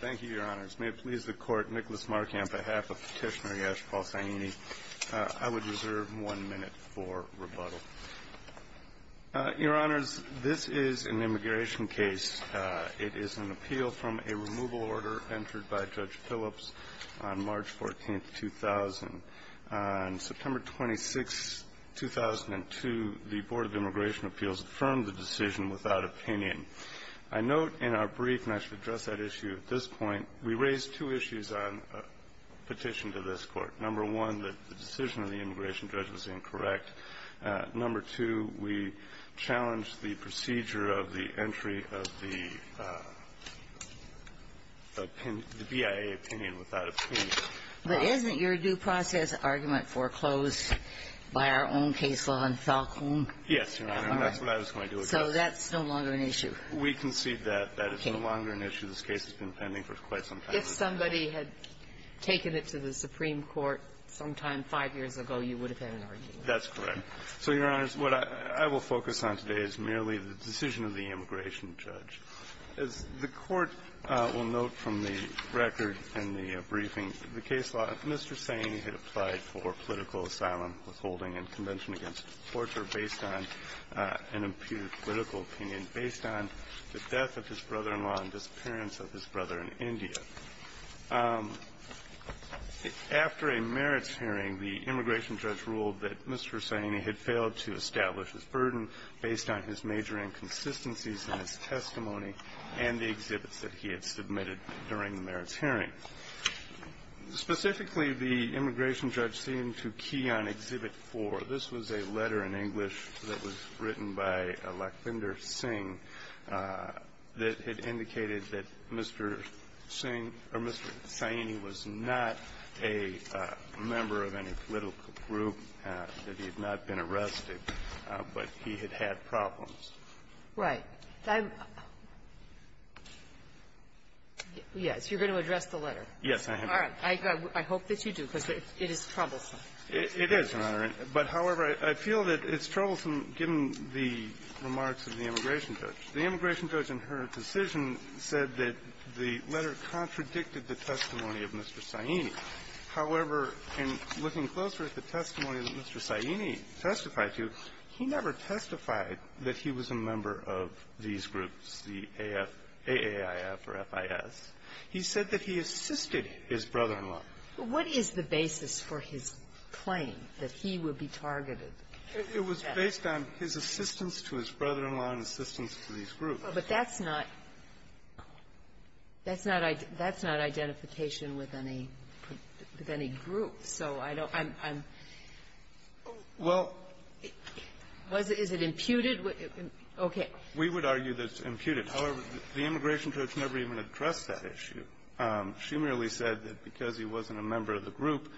Thank you, Your Honors. May it please the Court, Nicholas Markamp, on behalf of Petitioner Yash Paul Saini, I would reserve one minute for rebuttal. Your Honors, this is an immigration case. It is an appeal from a removal order entered by Judge Phillips on March 14, 2000. On September 26, 2002, the Board of Immigration Appeals affirmed the decision without opinion. I note in our brief, and I should address that issue at this point, we raised two issues on petition to this Court. Number one, that the decision of the immigration judge was incorrect. Number two, we challenged the procedure of the entry of the BIA opinion without opinion. But isn't your due process argument foreclosed by our own case law in Falcone? Yes, Your Honor, and that's what I was going to address. All right. So that's no longer an issue. We concede that that is no longer an issue. This case has been pending for quite some time. If somebody had taken it to the Supreme Court sometime five years ago, you would have had an argument. That's correct. So, Your Honors, what I will focus on today is merely the decision of the immigration judge. As the Court will note from the record and the briefing of the case law, Mr. Saini had applied for political asylum, withholding, and convention against torture based on an impure political opinion, based on the death of his brother-in-law and disappearance of his brother in India. After a merits hearing, the immigration judge ruled that Mr. Saini had failed to establish his burden based on his major inconsistencies in his testimony and the exhibits that he had submitted during the merits hearing. Specifically, the immigration judge seemed to key on Exhibit 4. This was a letter in English that was written by Lakbinder Singh that had indicated that Mr. Singh or Mr. Saini was not a member of any political group, that he had not been arrested, but he had had problems. Right. I'm — yes, you're going to address the letter. Yes, I am. All right. I hope that you do, because it is troublesome. It is, Your Honor. But, however, I feel that it's troublesome, given the remarks of the immigration judge. The immigration judge, in her decision, said that the letter contradicted the testimony of Mr. Saini. However, in looking closer at the testimony that Mr. Saini testified to, he never testified that he was a member of these groups, the AAIF or FIS. He said that he assisted his brother-in-law. But what is the basis for his claim that he would be targeted? It was based on his assistance to his brother-in-law and assistance to these groups. But that's not — that's not identification with any group. So I don't — I'm — Well — Was it — is it imputed? Okay. We would argue that it's imputed. However, the immigration judge never even addressed that issue. She merely said that because he wasn't a member of the group,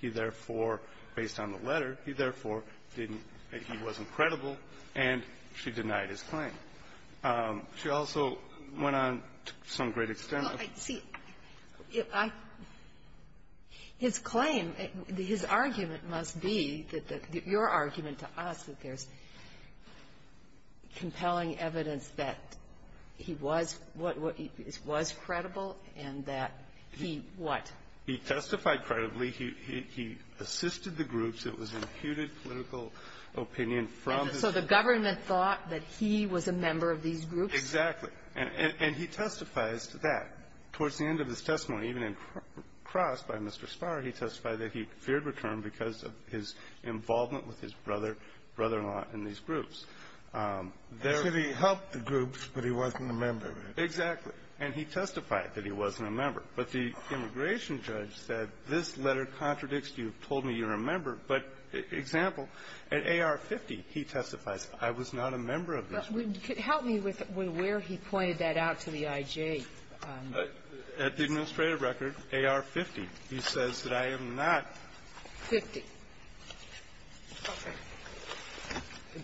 he therefore, based on the letter, he therefore didn't — he wasn't credible, and she denied She also went on to some great extent of — Well, see, if I — his claim, his argument must be that the — your argument to us that there's compelling evidence that he was — was credible and that he what? He testified credibly. He assisted the groups. It was imputed political opinion from his — So the government thought that he was a member of these groups? Exactly. And he testifies to that. Towards the end of his testimony, even in Cross by Mr. Spar, he testified that he feared return because of his involvement with his brother, brother-in-law in these groups. And so he helped the groups, but he wasn't a member of it? Exactly. And he testified that he wasn't a member. But the immigration judge said, this letter contradicts you, told me you're a member. But, example, at AR-50, he testifies, I was not a member of this group. Help me with where he pointed that out to the I.J. At the administrative record, AR-50, he says that I am not. Fifty. Okay.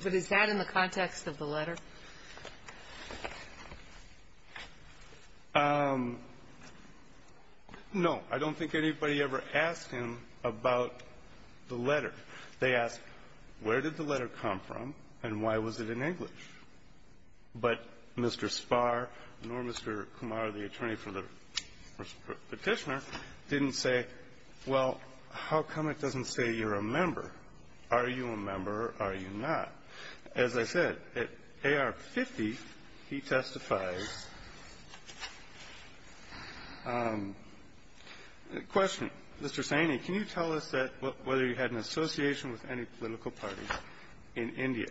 But is that in the context of the letter? No. I don't think anybody ever asked him about the letter. They asked, where did the letter come from, and why was it in English? But Mr. Spar nor Mr. Kumar, the attorney for the Petitioner, didn't say, well, how come it doesn't say you're a member? Are you a member or are you not? As I said, at AR-50, he testifies. The question, Mr. Saini, can you tell us that whether you had an association with any political party in India,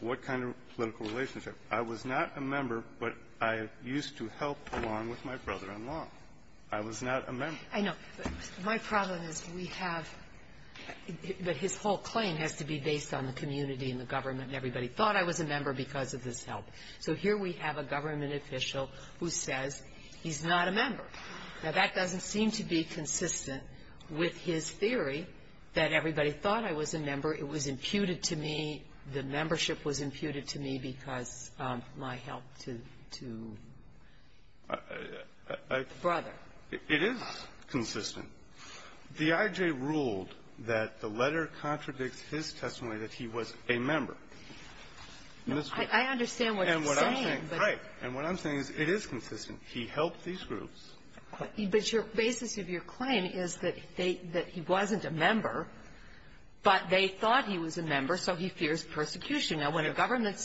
what kind of political relationship? I was not a member, but I used to help along with my brother-in-law. I was not a member. I know. My problem is we have his whole claim has to be based on the community and the government and everybody thought I was a member because of this help. So here we have a government official who says he's not a member. Now, that doesn't seem to be consistent with his theory that everybody thought I was a member. It was imputed to me. The membership was imputed to me because of my help to the brother. It is consistent. The IJ ruled that the letter contradicts his testimony that he was a member. I understand what you're saying, but the basis of your claim is that he wasn't a member, but they thought he was a member, so he fears persecution. Now, when a government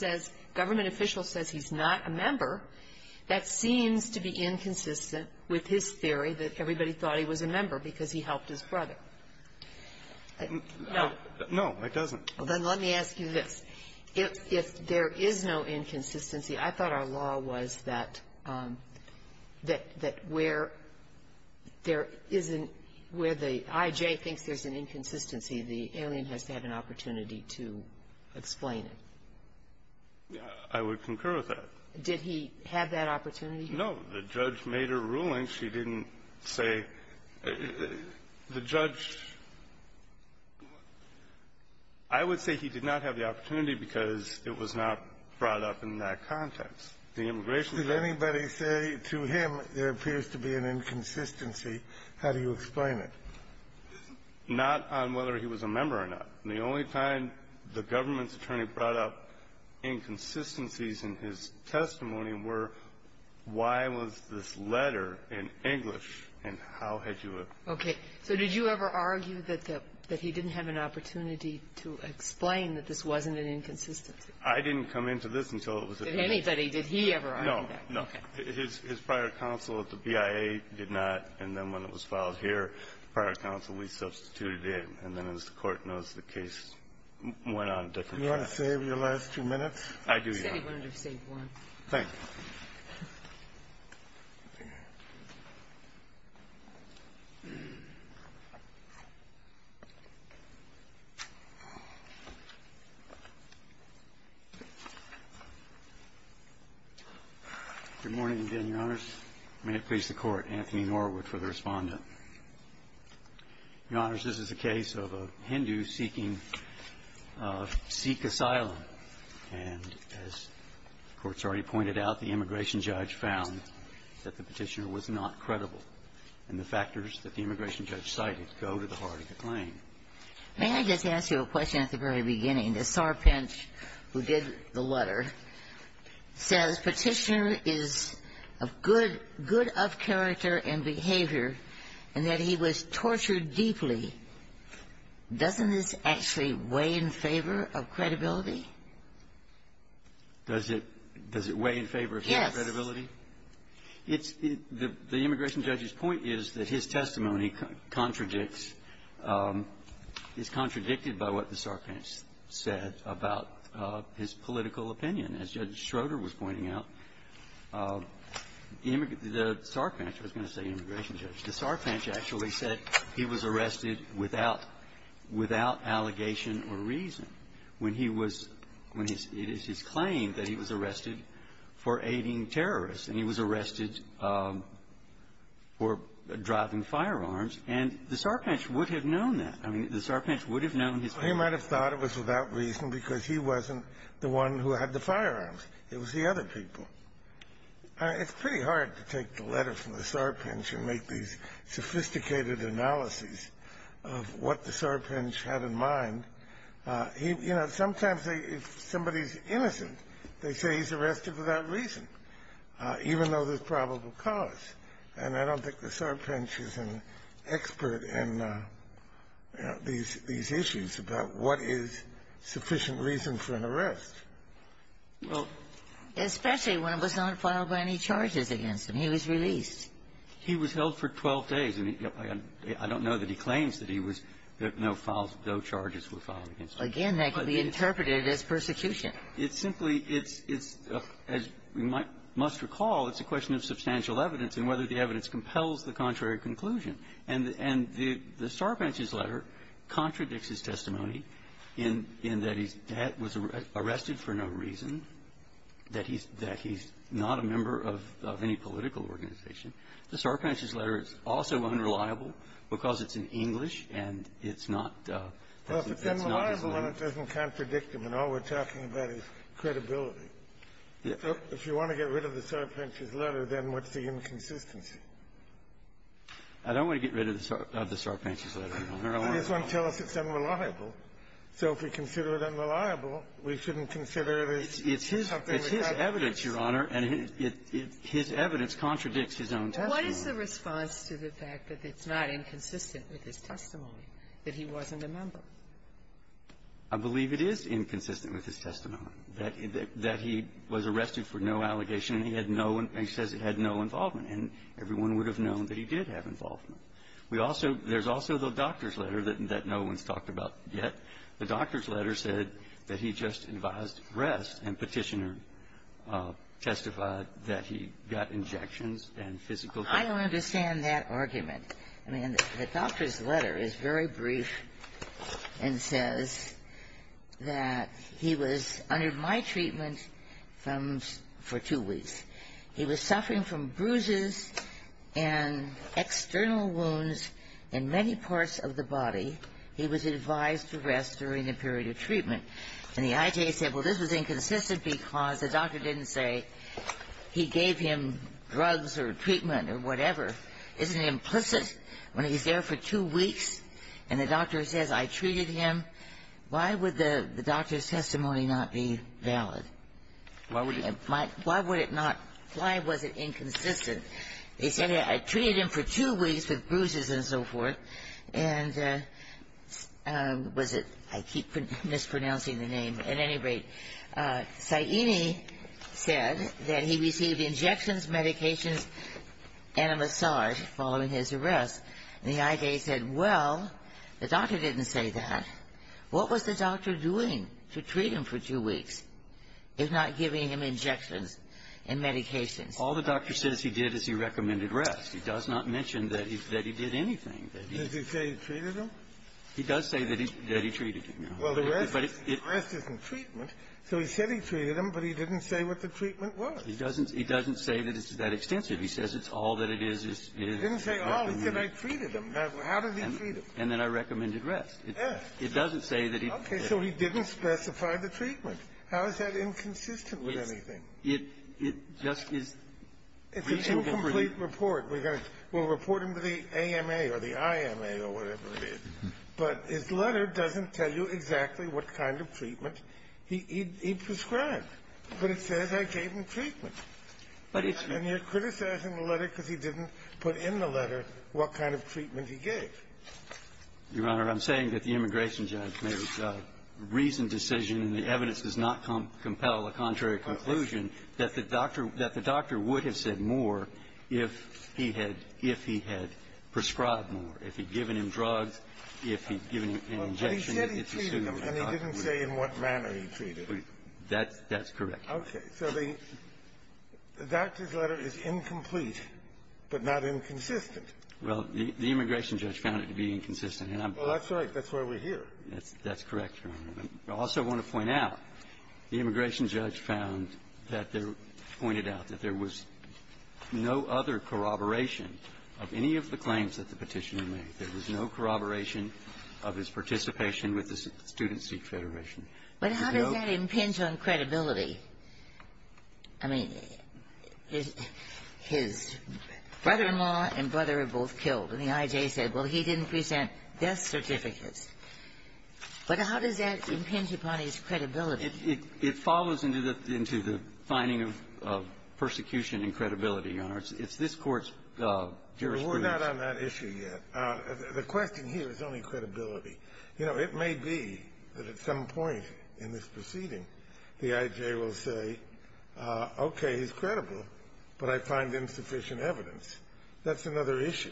official says he's not a member, that seems to be inconsistent with his theory that everybody thought he was a member because he helped his brother. No, it doesn't. Well, then let me ask you this. If there is no inconsistency, I thought our law was that where there isn't the IJ thinks there's an inconsistency, the alien has to have an opportunity to explain it. I would concur with that. Did he have that opportunity? No. The judge made a ruling. I don't think she didn't say the judge – I would say he did not have the opportunity because it was not brought up in that context. The immigration – Did anybody say to him there appears to be an inconsistency? How do you explain it? Not on whether he was a member or not. The only time the government's attorney brought up inconsistencies in his testimony were why was this letter in English, and how had you – Okay. So did you ever argue that he didn't have an opportunity to explain that this wasn't an inconsistency? I didn't come into this until it was a – Did anybody? Did he ever argue that? No, no. His prior counsel at the BIA did not. And then when it was filed here, prior counsel, we substituted in. And then as the Court knows, the case went on a different track. Do you want to save your last two minutes? I do, Your Honor. He said he wanted to save one. Thank you. Good morning again, Your Honors. May it please the Court. Anthony Norwood for the Respondent. Your Honors, this is a case of a Hindu seeking Sikh asylum. And as the Court's already pointed out, the immigration judge found that the petitioner was not credible. And the factors that the immigration judge cited go to the heart of the claim. May I just ask you a question at the very beginning? The sarpent who did the letter says petitioner is of good – good of character and behavior, and that he was tortured deeply. Doesn't this actually weigh in favor of credibility? Does it – does it weigh in favor of credibility? Yes. It's – the immigration judge's point is that his testimony contradicts – is contradicted by what the sarpent said about his political opinion. As Judge Schroeder was pointing out, the sarpent – I was going to say immigration without – without allegation or reason when he was – when his – it is his claim that he was arrested for aiding terrorists, and he was arrested for driving firearms. And the sarpent would have known that. I mean, the sarpent would have known his – He might have thought it was without reason because he wasn't the one who had the firearms. It was the other people. It's pretty hard to take the letter from the sarpent and make these sophisticated analyses of what the sarpent had in mind. He – you know, sometimes they – if somebody's innocent, they say he's arrested without reason, even though there's probable cause. And I don't think the sarpent is an expert in, you know, these – these issues about what is sufficient reason for an arrest. Well – Especially when it was not filed by any charges against him. He was released. He was held for 12 days. And I don't know that he claims that he was – that no files – no charges were filed against him. Again, that can be interpreted as persecution. It's simply – it's – as you must recall, it's a question of substantial evidence and whether the evidence compels the contrary conclusion. And – and the sarpent's letter contradicts his testimony in – in that he's – that he was arrested for no reason, that he's – that he's not a member of any political organization. The sarpent's letter is also unreliable because it's in English, and it's not – it's not his name. Well, if it's unreliable, then it doesn't contradict him. And all we're talking about is credibility. If you want to get rid of the sarpent's letter, then what's the inconsistency? I don't want to get rid of the sarpent's letter, Your Honor. I just want to tell us it's unreliable. So if we consider it unreliable, we shouldn't consider it as something we can't do. It's his – it's his evidence, Your Honor, and his evidence contradicts his own testimony. What is the response to the fact that it's not inconsistent with his testimony, that he wasn't a member? I believe it is inconsistent with his testimony, that he was arrested for no allegation and he had no – and he says he had no involvement. And everyone would have known that he did have involvement. We also – there's also the doctor's letter that no one's talked about yet. The doctor's letter said that he just advised rest, and Petitioner testified that he got injections and physical therapy. I don't understand that argument. I mean, the doctor's letter is very brief and says that he was under my treatment for two weeks. He was suffering from bruises and external wounds in many parts of the body. He was advised to rest during the period of treatment. And the IJA said, well, this was inconsistent because the doctor didn't say he gave him drugs or treatment or whatever. Isn't it implicit when he's there for two weeks and the doctor says, I treated him? Why would the doctor's testimony not be valid? Why would it not – why was it inconsistent? He said, I treated him for two weeks with bruises and so forth. And was it – I keep mispronouncing the name. At any rate, Saini said that he received injections, medications, and a massage following his arrest. And the IJA said, well, the doctor didn't say that. What was the doctor doing to treat him for two weeks? If not giving him injections and medications. All the doctor says he did is he recommended rest. He does not mention that he did anything. Did he say he treated him? He does say that he treated him. Well, the rest isn't treatment. So he said he treated him, but he didn't say what the treatment was. He doesn't say that it's that extensive. He says it's all that it is. He didn't say all. He said, I treated him. How did he treat him? Yes. It doesn't say that he did. Okay. So he didn't specify the treatment. How is that inconsistent with anything? It just is reasonable for him. It's a two-complete report. We're going to we'll report him to the AMA or the IMA or whatever it is. But his letter doesn't tell you exactly what kind of treatment he prescribed. But it says I gave him treatment. But it's. And you're criticizing the letter because he didn't put in the letter what kind of treatment he gave. Your Honor, I'm saying that the Immigration Judge made a reasoned decision, and the evidence does not compel a contrary conclusion, that the doctor would have said more if he had prescribed more, if he'd given him drugs, if he'd given him an injection. But he said he treated him, and he didn't say in what manner he treated him. That's correct. Okay. So the doctor's letter is incomplete, but not inconsistent. Well, the Immigration Judge found it to be inconsistent, and I'm. Well, that's right. That's why we're here. That's correct, Your Honor. I also want to point out, the Immigration Judge found that there, pointed out that there was no other corroboration of any of the claims that the petitioner made. There was no corroboration of his participation with the Student Seek Federation. But how does that impinge on credibility? I mean, his brother-in-law and brother are both killed, and the IJ said, well, he didn't present death certificates. But how does that impinge upon his credibility? It follows into the finding of persecution and credibility, Your Honor. It's this Court's jurisprudence. We're not on that issue yet. The question here is only credibility. You know, it may be that at some point in this proceeding, the IJ will say, okay, he's credible, but I find insufficient evidence. That's another issue.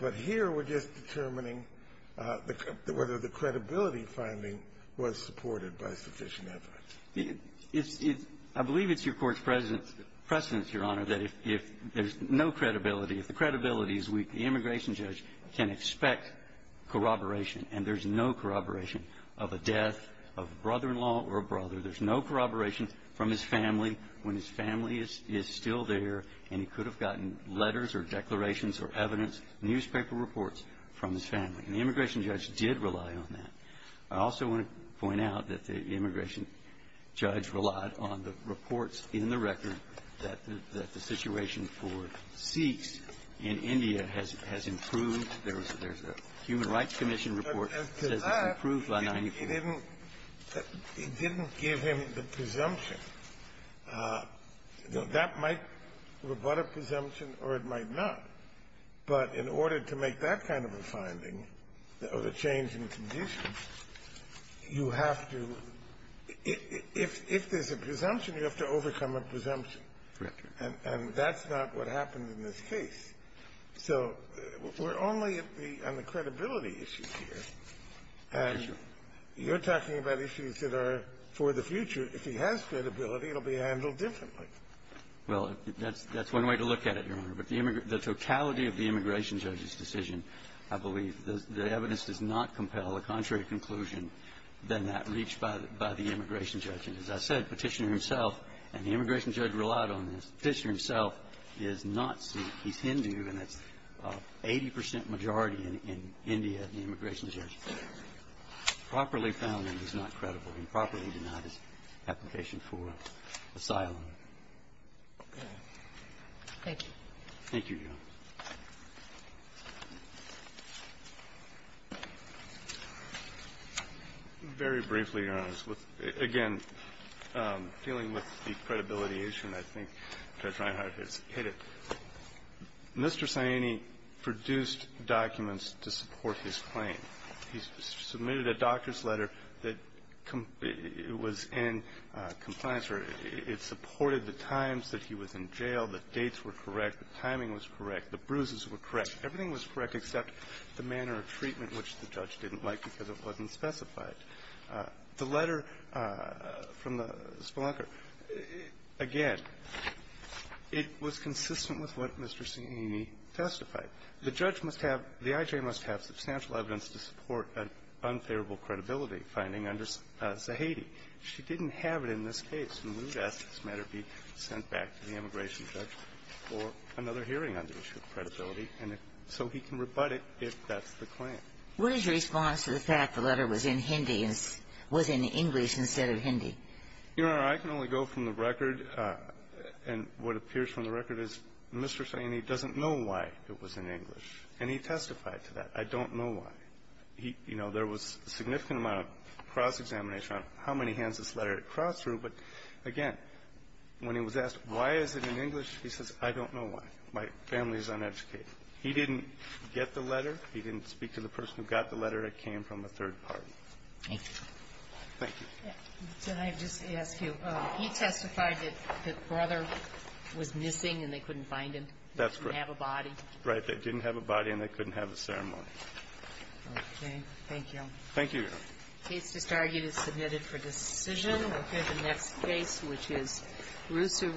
But here, we're just determining whether the credibility finding was supported by sufficient evidence. I believe it's your Court's precedence, Your Honor, that if there's no credibility, if the credibility is weak, the Immigration Judge can expect corroboration, and there's no corroboration of a death of a brother-in-law or a brother. There's no corroboration from his family when his family is still there, and he could have gotten letters or declarations or evidence, newspaper reports from his family. And the Immigration Judge did rely on that. I also want to point out that the Immigration Judge relied on the reports in the record that the situation for Sikhs in India has improved. There's a Human Rights Commission report that says it's improved by 94. It didn't give him the presumption. That might rebut a presumption or it might not. But in order to make that kind of a finding, or the change in conditions, you have to – if there's a presumption, you have to overcome a presumption. And that's not what happened in this case. So we're only at the credibility issues here. And you're talking about issues that are for the future. If he has credibility, it will be handled differently. Well, that's one way to look at it, Your Honor. But the totality of the Immigration Judge's decision, I believe, the evidence does not compel a contrary conclusion than that reached by the Immigration Judge. And as I said, Petitioner himself and the Immigration Judge relied on this. Petitioner himself is not Sikh. He's Hindu, and that's 80 percent majority in India, the Immigration Judge. Properly found, he's not credible. He properly denied his application for asylum. Okay. Thank you. Thank you, Your Honor. Very briefly, Your Honor, again, dealing with the credibility issue, and I think Judge Reinhart has hit it. Mr. Saini produced documents to support his claim. He submitted a doctor's letter that was in compliance. It supported the times that he was in jail, the dates were correct, the timing was correct, the bruises were correct. Everything was correct except the manner of treatment, which the judge didn't like because it wasn't specified. The letter from the spelunker, again, it was consistent with what Mr. Saini testified. The judge must have the I.J. must have substantial evidence to support an unfavorable credibility finding under Zahedi. She didn't have it in this case, and we would ask this matter be sent back to the Immigration Judge for another hearing on the issue of credibility, and so he can rebut it if that's the claim. What is your response to the fact the letter was in Hindi and was in English instead of Hindi? Your Honor, I can only go from the record, and what appears from the record is Mr. Saini's letter was in English, and he testified to that. I don't know why. He, you know, there was a significant amount of cross-examination on how many hands this letter had crossed through, but, again, when he was asked, why is it in English, he says, I don't know why. My family is uneducated. He didn't get the letter. He didn't speak to the person who got the letter. It came from a third party. Thank you, Your Honor. Thank you. Can I just ask you, he testified that the brother was missing and they couldn't find him. That's correct. He didn't have a body. Right. They didn't have a body and they couldn't have a ceremony. Okay. Thank you. Thank you, Your Honor. The case is submitted for decision. We'll hear the next case, which is Rusu v. McKayson.